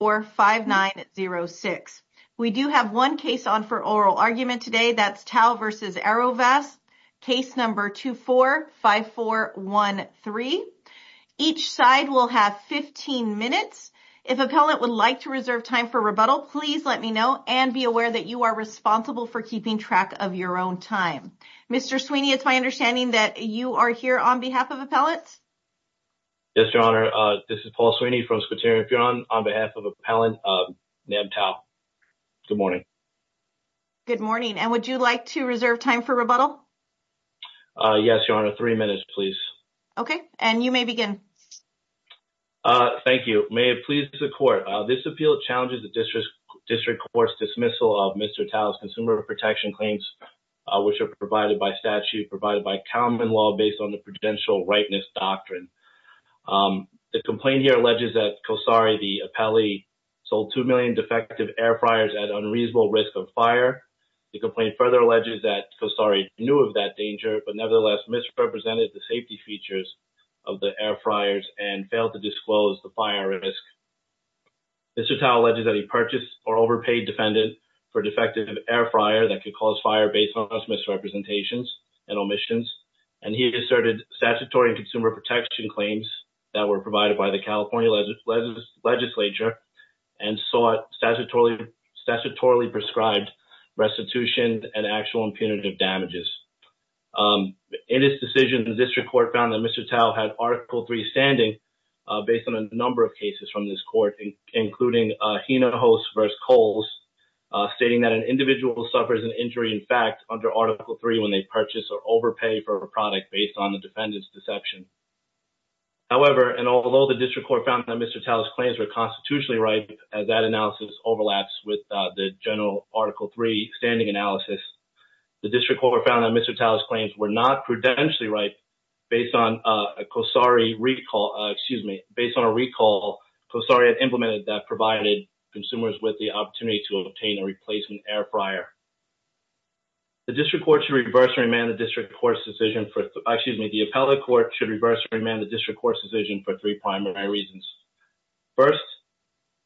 or 5906. We do have one case on for oral argument today. That's Tau versus Arovast. Case number 245413. Each side will have 15 minutes. If appellate would like to reserve time for rebuttal, please let me know and be aware that you are responsible for keeping track of your own time. Mr. Sweeney, it's my understanding that you are here on behalf of appellate. Yes, Your Honor. This is Paul Sweeney from Squitarian Furon on behalf of appellant Nab Tau. Good morning. Good morning. And would you like to reserve time for rebuttal? Yes, Your Honor. Three minutes, please. Okay. And you may begin. Thank you. May it please the court. This appeal challenges the district court's dismissal of Mr. Tau's consumer protection claims, which are provided by statute, provided by common law, based on the prudential rightness doctrine. The complaint here alleges that Kosari the appellee sold two million defective air fryers at unreasonable risk of fire. The complaint further alleges that Kosari knew of that danger, but nevertheless misrepresented the safety features of the air fryers and failed to disclose the fire risk. Mr. Tau alleges that he purchased or overpaid defendant for defective air fryer that could cause fire based on misrepresentations and omissions, and he asserted statutory consumer protection claims that were provided by the California legislature and sought statutorily prescribed restitution and actual impunitive damages. In his decision, the district court found that Mr. Tau had Article III standing based on a number of cases from this court, including Hinojosa v. Coles, stating that an overpay for a product based on the defendant's deception. However, and although the district court found that Mr. Tau's claims were constitutionally right as that analysis overlaps with the general Article III standing analysis, the district court found that Mr. Tau's claims were not prudentially right based on a Kosari recall, excuse me, based on a recall Kosari had implemented that provided consumers with the opportunity to obtain a replacement air fryer. The district court should reverse and remand the district court's decision for, excuse me, the appellate court should reverse and remand the district court's decision for three primary reasons. First,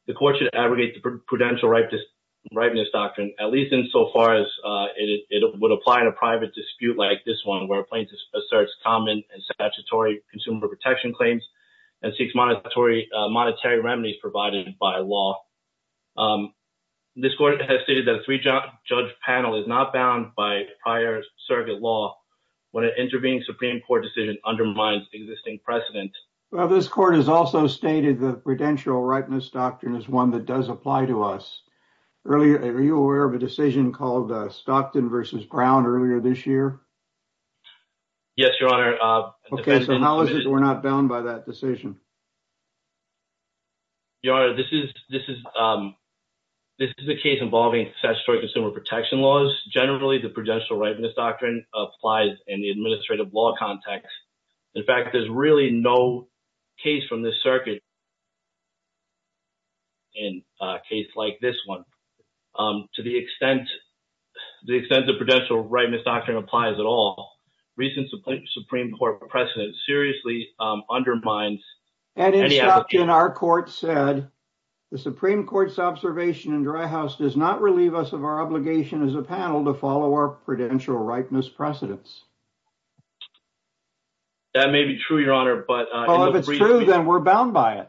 the court should abrogate the prudential rightness doctrine, at least insofar as it would apply in a private dispute like this one, where plaintiff asserts common and statutory consumer protection claims and seeks monetary remedies provided by law. Um, this court has stated that a three judge panel is not bound by prior circuit law when an intervening Supreme Court decision undermines existing precedent. Well, this court has also stated the prudential rightness doctrine is one that does apply to us. Earlier, are you aware of a decision called Stockton versus Brown earlier this year? Yes, Your Honor. Okay, so how is it we're not bound by that decision? Um, Your Honor, this is, this is, um, this is a case involving statutory consumer protection laws. Generally, the prudential rightness doctrine applies in the administrative law context. In fact, there's really no case from this circuit in a case like this one, um, to the extent, the extent of prudential rightness doctrine applies at all. Recent Supreme Court precedent seriously undermines and in our court said the Supreme Court's observation in dry house does not relieve us of our obligation as a panel to follow our prudential rightness precedents. That may be true, Your Honor, but if it's true, then we're bound by it.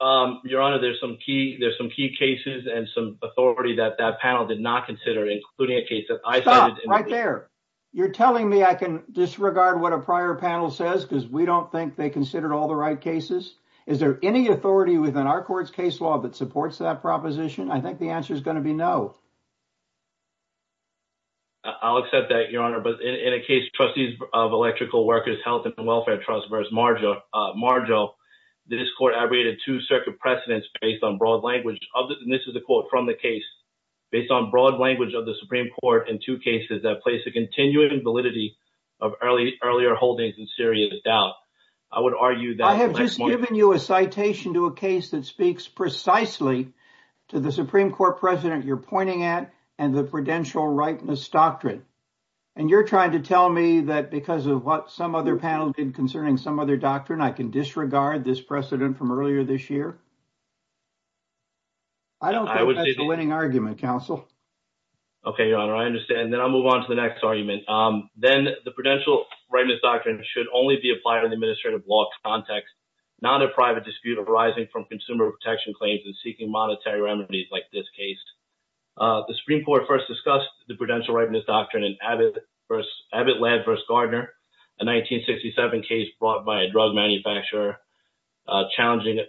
Um, Your Honor, there's some key, there's some key cases and some authority that that panel did not consider, including a case that I saw right there. You're telling me I can disregard what a prior panel says because we don't think they considered all the right cases. Is there any authority within our court's case law that supports that proposition? I think the answer is going to be no. I'll accept that, Your Honor, but in a case trustees of electrical workers, health and welfare trust versus Marjo, Marjo, the discord, I rated two circuit precedents based on this is a quote from the case based on broad language of the Supreme Court in two cases that place a continuing validity of early earlier holdings in Syria. The doubt I would argue that I have just given you a citation to a case that speaks precisely to the Supreme Court precedent you're pointing at and the prudential rightness doctrine. And you're trying to tell me that because of what some other panel did concerning some other doctrine, I can disregard this precedent from earlier this year? I don't think that's a winning argument, counsel. Okay, Your Honor, I understand. Then I'll move on to the next argument. Then the prudential rightness doctrine should only be applied in the administrative law context, not a private dispute arising from consumer protection claims and seeking monetary remedies like this case. The Supreme Court first discussed the prudential rightness doctrine in Abbott versus Gardner, a 1967 case brought by a drug manufacturer, challenging,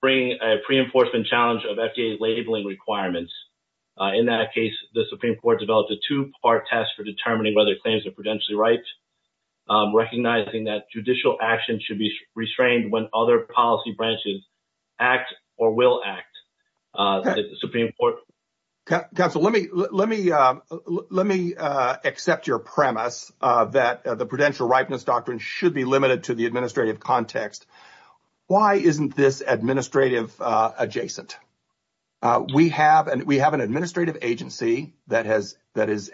bringing a pre-enforcement challenge of FDA labeling requirements. In that case, the Supreme Court developed a two-part test for determining whether claims are prudentially right, recognizing that judicial action should be restrained when other policy branches act or will act, the Supreme Court. Counsel, let me accept your premise that the prudential rightness doctrine should be limited to the administrative context. Why isn't this administrative adjacent? We have an administrative agency that has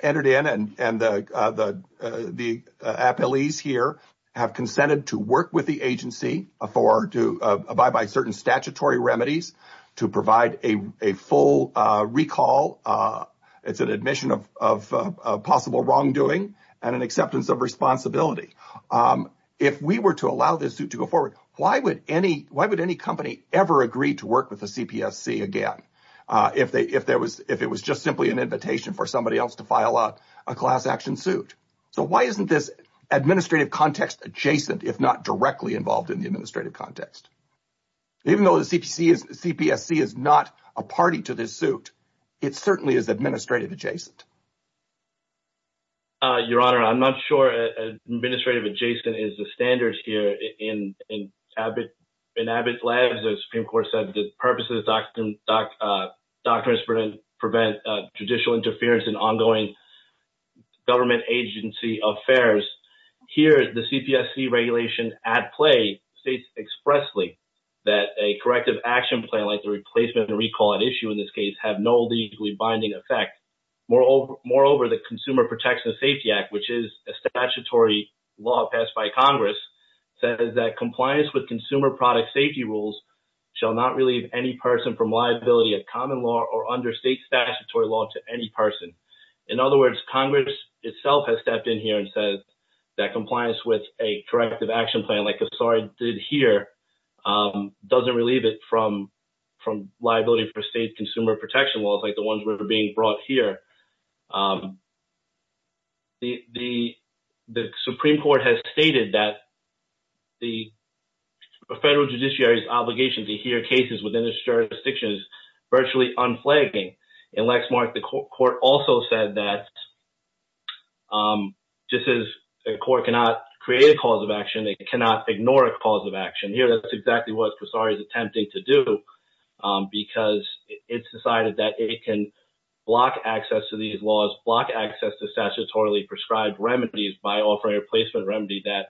entered in and the appellees here have consented to work with the agency to abide by certain statutory remedies to provide a full recall. It's an admission of possible wrongdoing and an acceptance of responsibility. If we were to allow this suit to go forward, why would any company ever agree to work with the CPSC again if it was just simply an invitation for somebody else to file a class action suit? Why isn't this administrative context adjacent if not directly involved in the administrative context? Even though the CPSC is not a party to this suit, it certainly is administrative adjacent. Your Honor, I'm not sure administrative adjacent is the standard here. In Abbott's labs, the Supreme Court said the purpose of the doctrine is to prevent judicial interference in ongoing government agency affairs. Here, the CPSC regulation at play states expressly that a corrective action plan like the replacement and recall at issue in this case have no legally binding effect. Moreover, the Consumer Protection and Safety Act, which is a statutory law passed by Congress, says that compliance with consumer product safety rules shall not relieve any person from liability of common law or under state statutory law to any person. In other words, Congress itself has stepped in here and says that compliance with a corrective action plan like Cassar did here doesn't relieve it from liability for state consumer protection laws like the ones that were being brought here. The Supreme Court has stated that the federal judiciary's obligation to hear cases within its jurisdictions virtually unflagging. In Lexmark, the court also said that just as a court cannot create a cause of action, it cannot ignore a cause of action. Here, that's exactly what Cassar is attempting to do because it's decided that it can block access to these laws, block access to statutorily prescribed remedies by offering a placement remedy that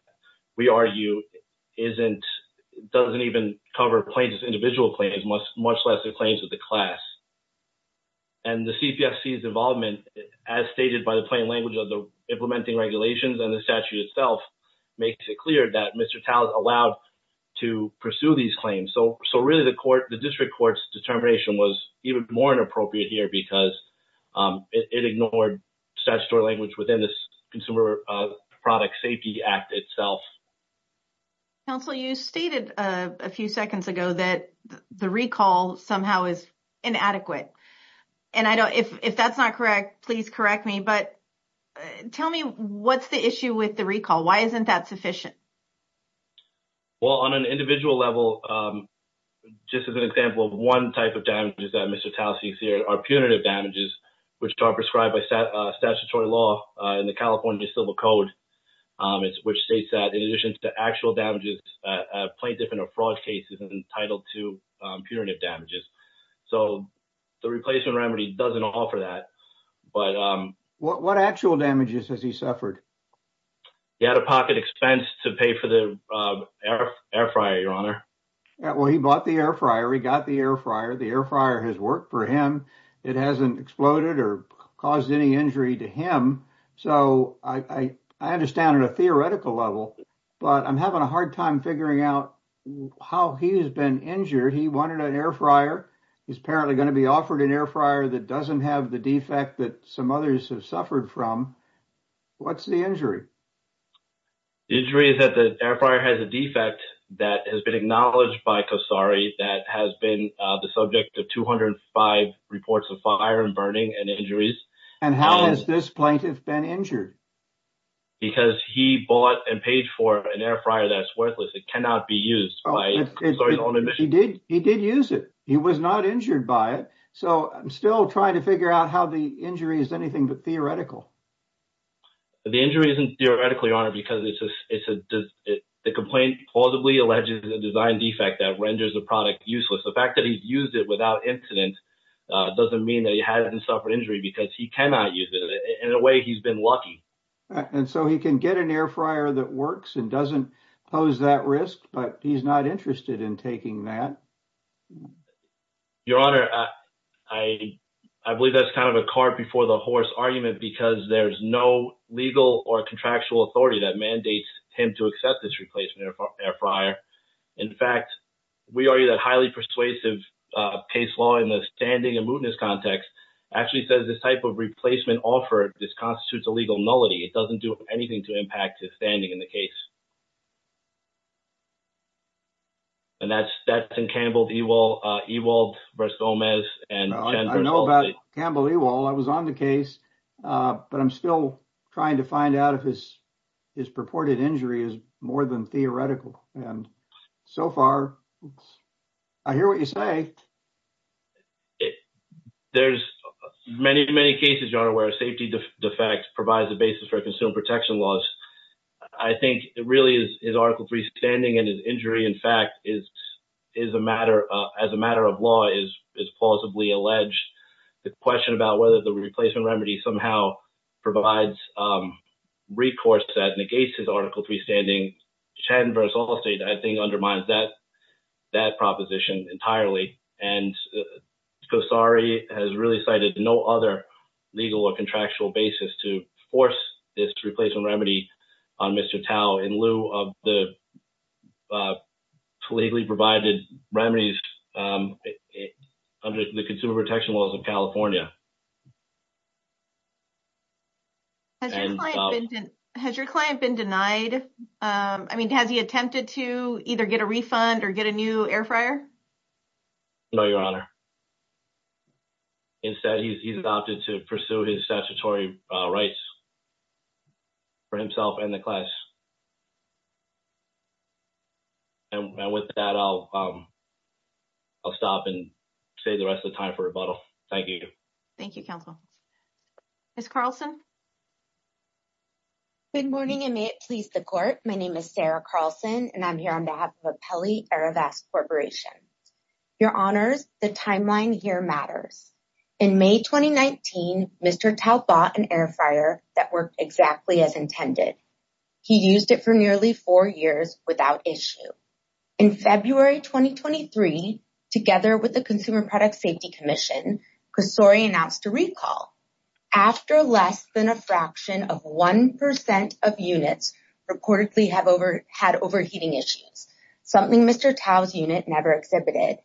we argue doesn't even cover claims as individual claims, much less the claims of the class. The CPSC's involvement, as stated by the plain language of the implementing regulations and the statute itself, makes it clear that Mr. Tao is allowed to pursue these claims. Really, the district court's determination was even more inappropriate here because it ignored statutory language within the Consumer Product Safety Act itself. Counsel, you stated a few seconds ago that the recall somehow is inadequate. If that's not correct, please correct me, but tell me what's the issue with the recall? Why isn't that sufficient? Well, on an individual level, just as an example of one type of damages that Mr. Tao sees here are punitive damages, which are prescribed by statutory law in the California Civil Code, which states that in addition to actual damages, a plaintiff in a fraud case is entitled to punitive damages. The replacement remedy doesn't offer that. What actual damages has he suffered? He had a pocket expense to pay for the air fryer, Your Honor. Well, he bought the air fryer. He got the air fryer. The air fryer has worked for him. It hasn't exploded or caused any injury to him. So, I understand on a theoretical level, but I'm having a hard time figuring out how he has been injured. He wanted an air fryer. He's apparently going to be offered an air fryer that doesn't have the defect that some others have suffered from. What's the injury? The injury is that the air fryer has a defect that has been acknowledged by Kasari that has been the subject of 205 reports of fire and burning and injuries. And how has this plaintiff been injured? Because he bought and paid for an air fryer that's worthless. It cannot be used. He did use it. He was not injured by it. So, I'm still trying to figure out how the injury is anything but theoretical. The injury isn't theoretically, Your Honor, because the complaint plausibly alleges a design defect that renders a product useless. The fact that he's used it without incident doesn't mean that he hasn't suffered injury because he cannot use it. In a way, he's been lucky. And so, he can get an air fryer that works and doesn't pose that risk, but he's not interested in taking that. Your Honor, I believe that's kind of a cart before the horse argument because there's no legal or contractual authority that mandates him to accept this replacement air fryer. In fact, we argue that highly persuasive case law in the standing and mootness context actually says this type of replacement offer just constitutes a legal nullity. It doesn't do anything to impact his standing in the case. And that's in Campbell-Ewald v. Gomez and— I know about Campbell-Ewald. I was on the case, but I'm still trying to find out if his purported injury is more than theoretical. And so far, I hear what you say. There's many, many cases, Your Honor, where a safety defect provides a basis for a protection law. I think it really is Article III standing and his injury, in fact, as a matter of law, is plausibly alleged. The question about whether the replacement remedy somehow provides recourse that negates his Article III standing, Chattanooga v. Allstate, I think undermines that proposition entirely. And Gosari has really cited no other legal or contractual basis to force this replacement remedy on Mr. Tao in lieu of the legally provided remedies under the consumer protection laws of California. Has your client been denied? I mean, has he attempted to either get a refund or get a new air fryer? No, Your Honor. Instead, he's opted to pursue his statutory rights for himself and the class. And with that, I'll stop and save the rest of the time for rebuttal. Thank you. Thank you, counsel. Ms. Carlson? Good morning, and may it please the Court. My name is Sarah Carlson, and I'm here on behalf of Apelli Arovast Corporation. Your Honors, the timeline here matters. In May 2019, Mr. Tao bought an air fryer that worked exactly as intended. He used it for nearly four years without issue. In February 2023, together with the Consumer Product Safety Commission, Gosari announced a recall after less than a fraction of 1% of units reportedly had overheating issues, something Mr. Tao's unit never exhibited.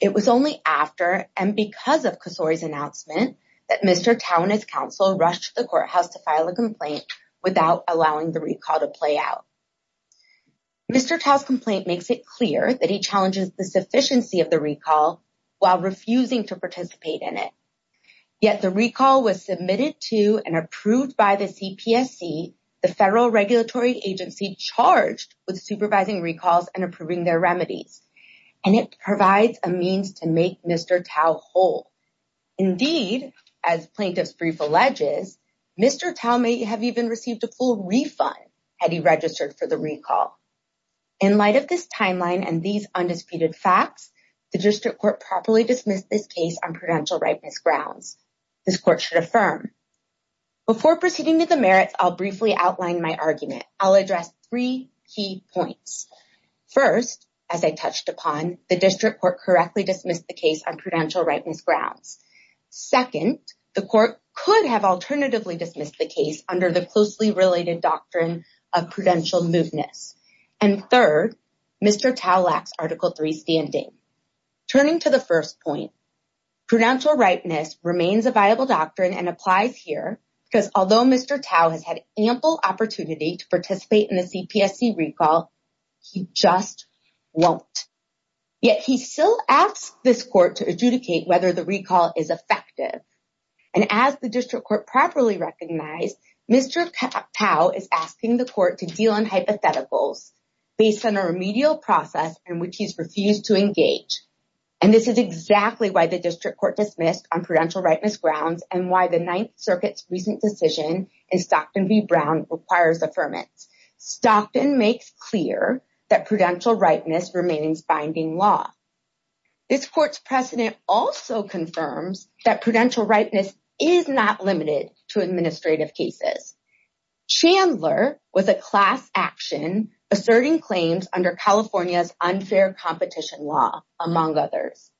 It was only after and because of Gosari's announcement that Mr. Tao and his counsel rushed to the courthouse to file a complaint without allowing the recall to play out. Mr. Tao's complaint makes it clear that he challenges the sufficiency of the recall while refusing to participate in it. Yet the recall was submitted to and approved by the CPSC, the federal regulatory agency charged with supervising recalls and approving their remedies, and it provides a means to make Mr. Tao whole. Indeed, as plaintiff's brief alleges, Mr. Tao may have even received a full refund had he registered for the recall. In light of this timeline and these undisputed facts, the district court properly dismissed this case on prudential rightness grounds. This court should affirm. Before proceeding to the merits, I'll briefly outline my argument. I'll address three key points. First, as I touched upon, the district court correctly dismissed the case on prudential rightness grounds. Second, the court could have alternatively dismissed the case under the closely related doctrine of prudential moveness. And third, Mr. Tao lacks Article 3 standing. Turning to the first point, prudential rightness remains a viable doctrine and applies here because although Mr. Tao has had ample opportunity to participate in the CPSC recall, he just won't. Yet he still asks this court to adjudicate whether the recall is effective. And as the district court properly recognized, Mr. Tao is asking the court to deal with hypotheticals based on a remedial process in which he's refused to engage. And this is exactly why the district court dismissed on prudential rightness grounds and why the Ninth Circuit's recent decision in Stockton v. Brown requires affirmance. Stockton makes clear that prudential rightness remains binding law. This court's precedent also confirms that prudential asserting claims under California's unfair competition law, among others.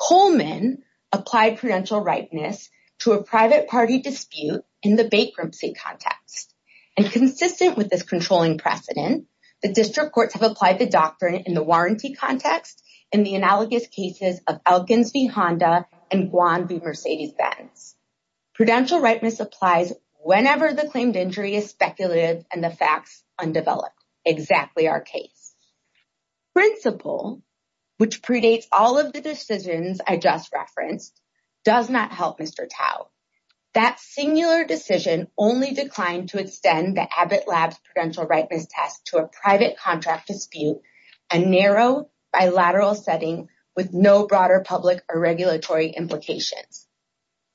Coleman applied prudential rightness to a private party dispute in the bankruptcy context. And consistent with this controlling precedent, the district courts have applied the doctrine in the warranty context in the analogous cases of Elkins v. Honda and Guan v. Mercedes-Benz. Prudential rightness applies whenever the claimed injury is speculative and the facts undeveloped. Exactly our case. Principle, which predates all of the decisions I just referenced, does not help Mr. Tao. That singular decision only declined to extend the Abbott Labs prudential rightness test to a private contract dispute, a narrow bilateral setting with no broader public or regulatory implications.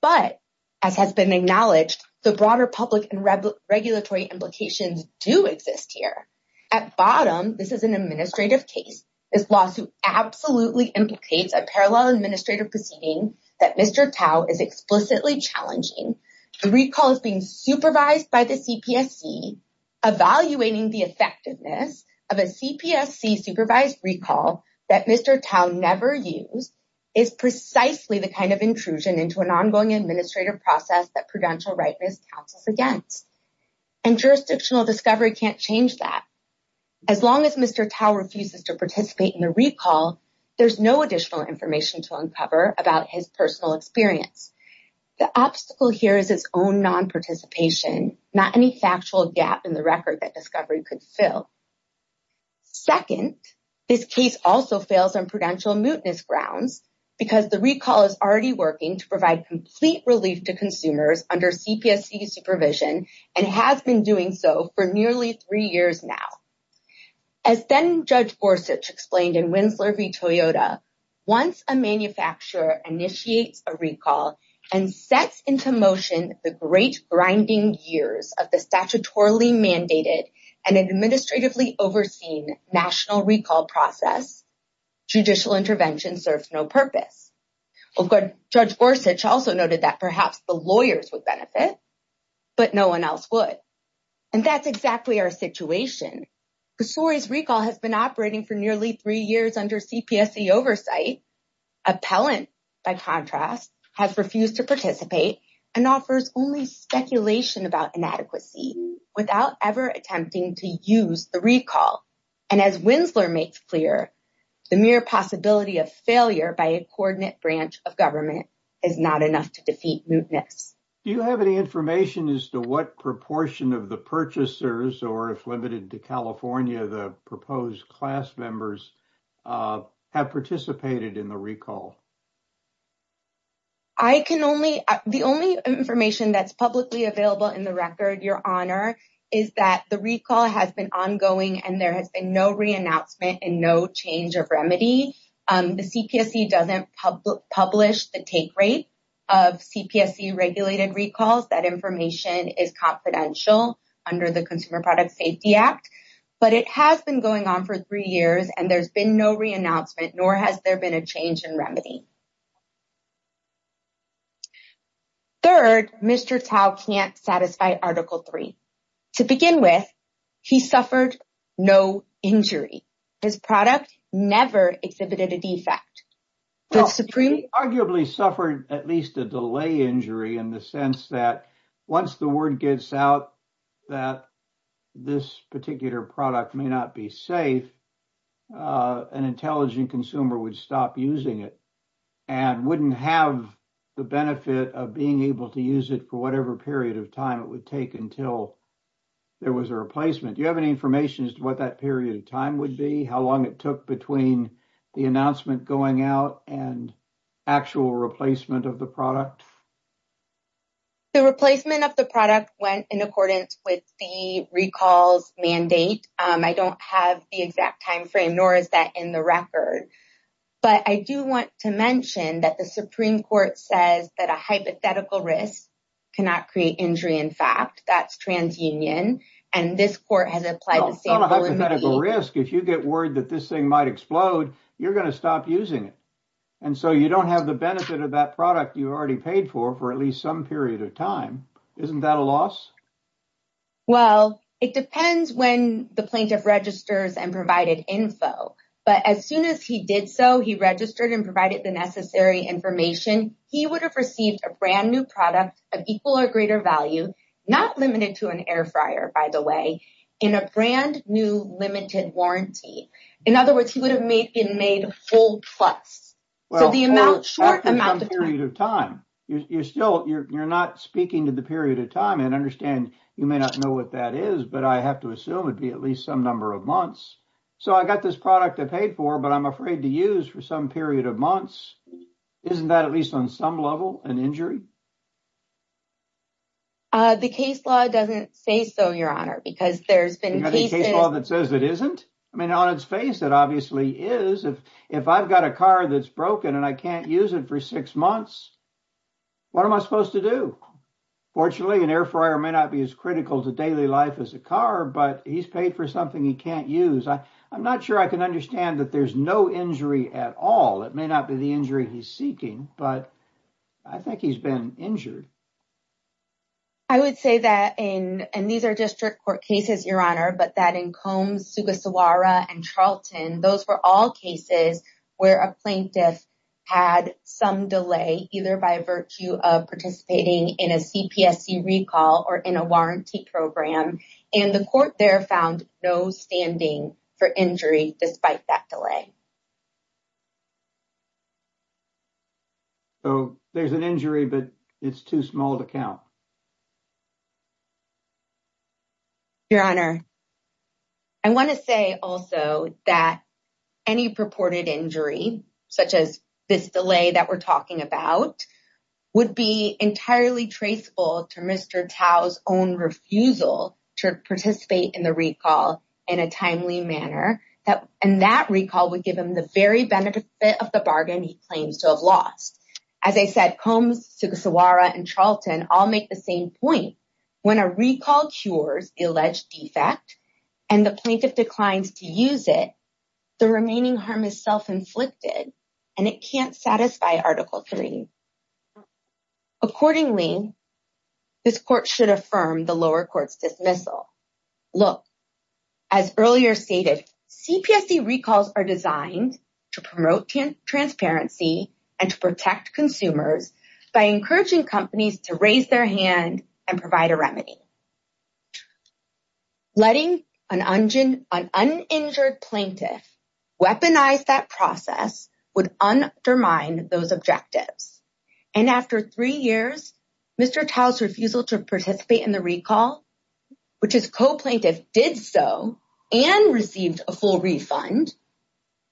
But as has been acknowledged, the broader public and regulatory implications do exist here. At bottom, this is an administrative case. This lawsuit absolutely implicates a parallel administrative proceeding that Mr. Tao is explicitly challenging. The recall is being supervised by the CPSC. Evaluating the effectiveness of a CPSC supervised recall that Mr. Tao never used is precisely the kind of intrusion into an ongoing administrative process that prudential rightness counts as against. And jurisdictional discovery can't change that. As long as Mr. Tao refuses to participate in the recall, there's no additional information to uncover about his personal experience. The obstacle here is his own non-participation, not any factual gap in the record that discovery could fill. Second, this case also fails on prudential mootness grounds because the recall is already working to provide complete relief to consumers under CPSC supervision and has been doing so for nearly three years now. As then Judge Gorsuch explained in Winslow v. Toyota, once a manufacturer initiates a recall and sets into motion the great grinding years of the statutorily mandated and administratively overseen national recall process, judicial intervention serves no purpose. Judge Gorsuch also noted that perhaps the lawyers would benefit, but no one else would. And that's exactly our situation. CSORI's recall has been operating for nearly three years under CPSC oversight. Appellant, by contrast, has refused to participate and offers only speculation about inadequacy without ever attempting to use the recall. And as Winslow makes clear, the mere possibility of failure by a coordinate branch of government is not enough to defeat mootness. Do you have any information as to what proportion of the or if limited to California, the proposed class members have participated in the recall? I can only, the only information that's publicly available in the record, Your Honor, is that the recall has been ongoing and there has been no reannouncement and no change of remedy. The CPSC doesn't publish the take rate of CPSC regulated recalls. That information is confidential under the Consumer Product Safety Act, but it has been going on for three years and there's been no reannouncement, nor has there been a change in remedy. Third, Mr. Tao can't satisfy Article III. To begin with, he suffered no injury. His product never exhibited a defect. The Supreme... He arguably suffered at least a delay injury in the sense that once the word gets out that this particular product may not be safe, an intelligent consumer would stop using it and wouldn't have the benefit of being able to use it for whatever period of time it would take until there was a replacement. Do you have any information as to what that period of time would be? How long it took between the announcement going out and actual replacement of the product? The replacement of the product went in accordance with the recall's mandate. I don't have the exact time frame, nor is that in the record, but I do want to mention that the Supreme Court says that a hypothetical risk cannot create injury in fact. That's transunion and this court has applied the same... It's not a hypothetical risk. If you get worried that this thing might explode, you're going to stop using it and so you don't have the benefit of that product you already paid for for at least some period of time. Isn't that a loss? Well, it depends when the plaintiff registers and provided info, but as soon as he did so, he registered and provided the necessary information, he would have received a brand new product of equal or greater value, not limited to an air warranty. In other words, he would have been made a full plus. You're not speaking to the period of time. I understand you may not know what that is, but I have to assume it'd be at least some number of months. I got this product I paid for, but I'm afraid to use for some period of months. Isn't that at least on some level an injury? The case law doesn't say so, Your Honor, because there's been cases... You got a case law that says it isn't? I mean, on its face, it obviously is. If I've got a car that's broken and I can't use it for six months, what am I supposed to do? Fortunately, an air fryer may not be as critical to daily life as a car, but he's paid for something he can't use. I'm not sure I can understand that there's no injury at all. It may not be the injury he's injured. I would say that, and these are district court cases, Your Honor, but that in Combs, Sugasawara, and Charlton, those were all cases where a plaintiff had some delay, either by virtue of participating in a CPSC recall or in a warranty program, and the court there found no standing for injury despite that delay. So there's an injury, but it's too small to count? Your Honor, I want to say also that any purported injury, such as this delay that we're talking about, would be entirely traceable to Mr. Tao's own refusal to participate in the recall in a manner that in that recall would give him the very benefit of the bargain he claims to have lost. As I said, Combs, Sugasawara, and Charlton all make the same point. When a recall cures the alleged defect and the plaintiff declines to use it, the remaining harm is self-inflicted and it can't satisfy Article 3. Accordingly, this court should affirm the lower court's dismissal. Look, as earlier stated, CPSC recalls are designed to promote transparency and to protect consumers by encouraging companies to raise their hand and provide a remedy. Letting an uninjured plaintiff weaponize that process would undermine those objectives. After three years, Mr. Tao's refusal to participate in the recall, which his co-plaintiff did so and received a full refund,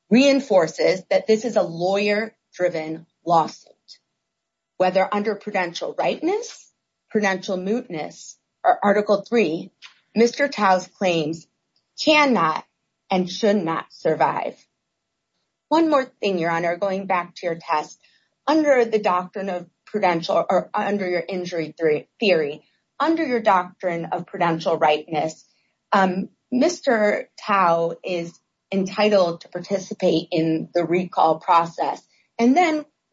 reinforces that this is a lawyer-driven lawsuit. Whether under prudential rightness, prudential mootness, or Article 3, Mr. Tao's claims cannot and should not survive. One more thing, Your Honor, going back to your test. Under your injury theory, under your doctrine of prudential rightness, Mr. Tao is entitled to participate in the recall process.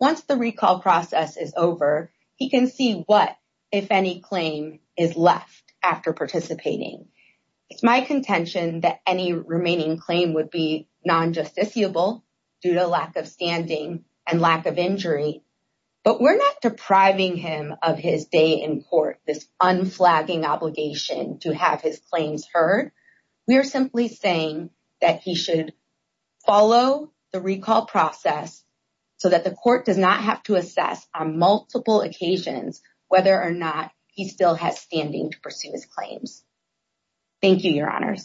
Once the recall process is over, he can see what, if any, claim is left after participating. It's my contention that any claim would be non-justiciable due to lack of standing and lack of injury, but we're not depriving him of his day in court, this unflagging obligation to have his claims heard. We're simply saying that he should follow the recall process so that the court does not have to assess on multiple occasions whether or not he still has standing to pursue his claims. Thank you, Your Honor.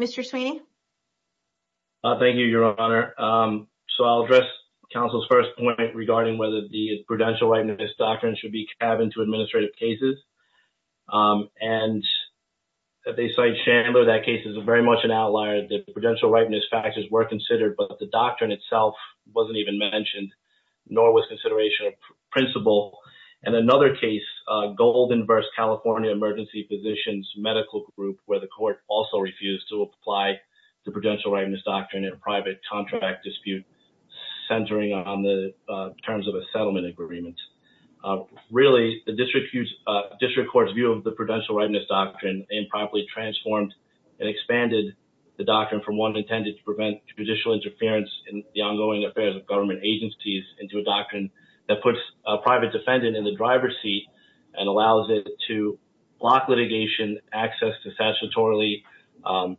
Mr. Sweeney? Thank you, Your Honor. I'll address counsel's first point regarding whether the prudential rightness doctrine should be tabbed into administrative cases. They cite Chandler. That case is very much an outlier. The prudential rightness factors were considered, but the doctrine itself wasn't even mentioned, nor was consideration of principle. And another case, Golden versus California Emergency Physicians Medical Group, where the court also refused to apply the prudential rightness doctrine in a private contract dispute centering on the terms of a settlement agreement. Really, the district court's view of the prudential rightness doctrine improperly transformed and expanded the doctrine from one intended to prevent judicial interference in the ongoing affairs of government agencies into a doctrine that puts private defendant in the driver's seat and allows it to block litigation, access to statutorily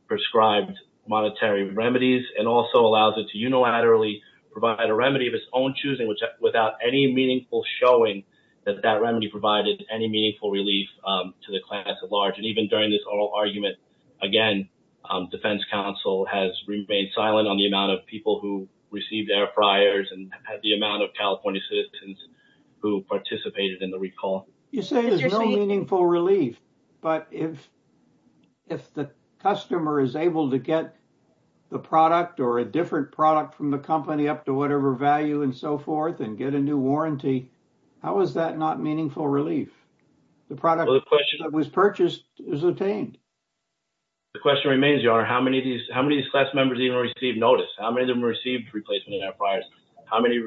prescribed monetary remedies, and also allows it to unilaterally provide a remedy of its own choosing without any meaningful showing that that remedy provided any meaningful relief to the class at large. And even during this oral argument, again, defense counsel has remained silent on the who participated in the recall. You say there's no meaningful relief, but if the customer is able to get the product or a different product from the company up to whatever value and so forth and get a new warranty, how is that not meaningful relief? The product that was purchased is obtained. The question remains, Your Honor, how many of these class members even received notice? How many of them received replacement in their priors? How many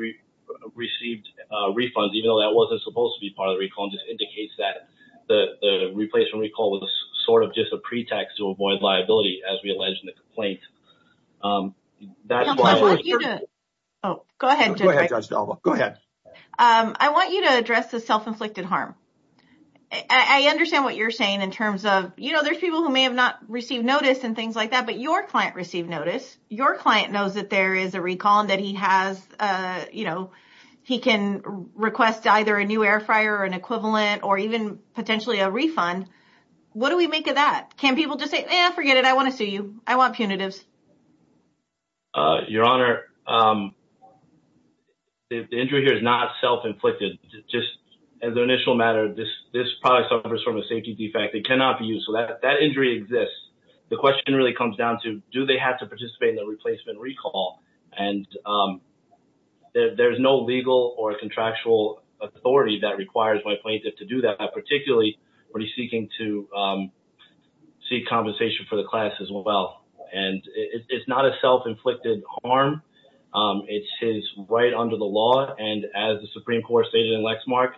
received refunds, even though that wasn't supposed to be part of the recall, just indicates that the replacement recall was sort of just a pretext to avoid liability as we allege in the complaint. I want you to address the self-inflicted harm. I understand what you're saying in terms of, you know, there's people who may have not received notice and things like that, but your client received notice. Your client knows that there is a recall and that he has, you know, he can request either a new air fryer or an equivalent or even potentially a refund. What do we make of that? Can people just say, eh, forget it. I want to sue you. I want punitives. Your Honor, the injury here is not self-inflicted. Just as an initial matter, this product suffers from a safety defect. It cannot be used. So that injury exists. The question really comes down to, do they have to participate in the replacement recall? And there's no legal or contractual authority that requires my plaintiff to do that, particularly when he's seeking to seek compensation for the class as well. And it's not a self-inflicted harm. It's his right under the law. And as the Supreme Court stated in Lexmark,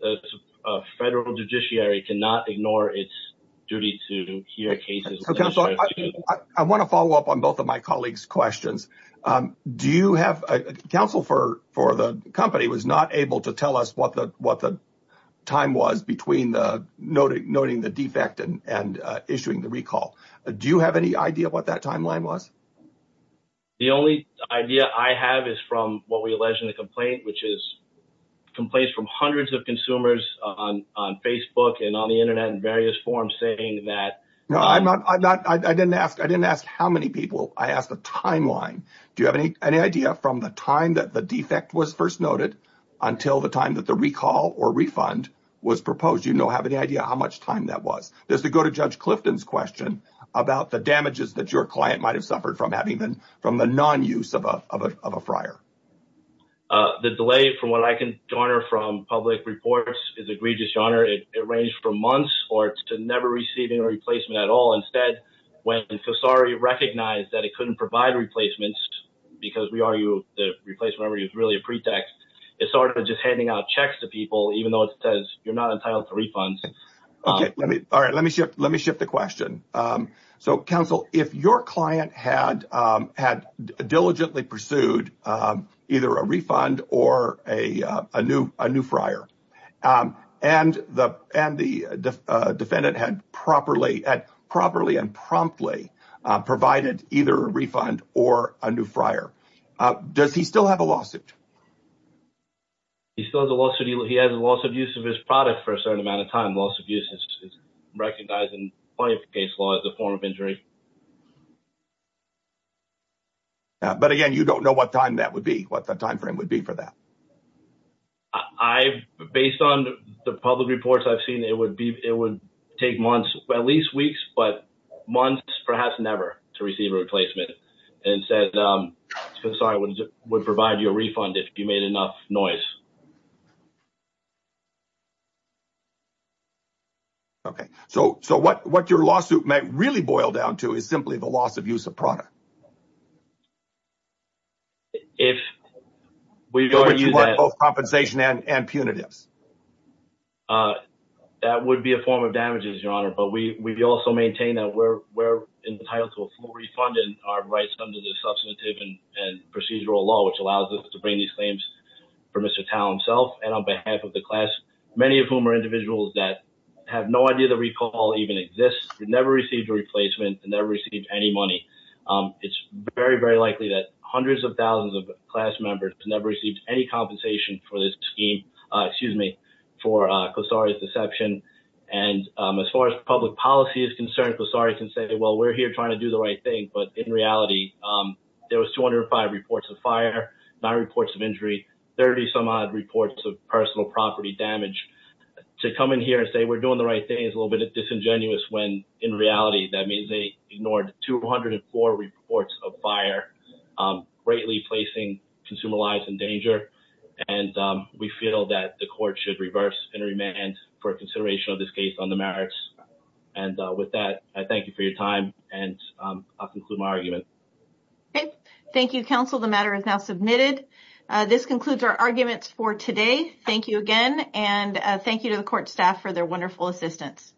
the federal judiciary cannot ignore its duty to hear cases. I want to follow up on both of my colleagues' questions. Do you have, counsel for the company was not able to tell us what the time was between the noting the defect and issuing the recall. Do you have any idea what that timeline was? The only idea I have is from what we alleged in the complaint, which is complaints from hundreds of consumers on Facebook and on the internet in various forms saying that I didn't ask how many people. I asked the timeline. Do you have any idea from the time that the defect was first noted until the time that the recall or refund was proposed? Do you have any idea how much time that was? Just to go to Judge Clifton's question about the damages that your client might have suffered from having been from the non-use of a fryer. The delay from what I can garner from public reports is egregious, your honor. It ranged from months or to never receiving a replacement at all. Instead, when Casari recognized that it couldn't provide replacements because we argue the replacement is really a pretext, it started just handing out checks to people, even though it says you're not entitled to refunds. All right. Let me shift the question. Counsel, if your client had diligently pursued either a refund or a new fryer and the defendant had properly and promptly provided either a refund or a new fryer, does he still have a lawsuit? He still has a lawsuit. He has a lawsuit use product for a certain amount of time. Loss of use is recognized in plenty of case law as a form of injury. But again, you don't know what time that would be, what the timeframe would be for that. Based on the public reports I've seen, it would take months, at least weeks, but months, perhaps never, to receive a replacement. Instead, Casari would provide you a refund if you made enough noise. Okay. So what your lawsuit might really boil down to is simply the loss of use of product. If we go to use that. Both compensation and punitives. That would be a form of damages, Your Honor, but we also maintain that we're entitled to a full refund and our rights under the substantive and procedural law, which allows us to bring these for Mr. Tal himself and on behalf of the class, many of whom are individuals that have no idea that recall even exists, never received a replacement and never received any money. It's very, very likely that hundreds of thousands of class members never received any compensation for this scheme, excuse me, for Casari's deception. And as far as public policy is concerned, Casari can say, well, we're here trying to do the right thing. But in reality, there was 205 reports of fire, nine reports of injury, 30 some odd reports of personal property damage. To come in here and say we're doing the right thing is a little bit disingenuous when in reality, that means they ignored 204 reports of fire, greatly placing consumer lives in danger. And we feel that the court should reverse and remand for consideration of this case on the argument. Okay. Thank you, counsel. The matter is now submitted. This concludes our arguments for today. Thank you again. And thank you to the court staff for their wonderful assistance.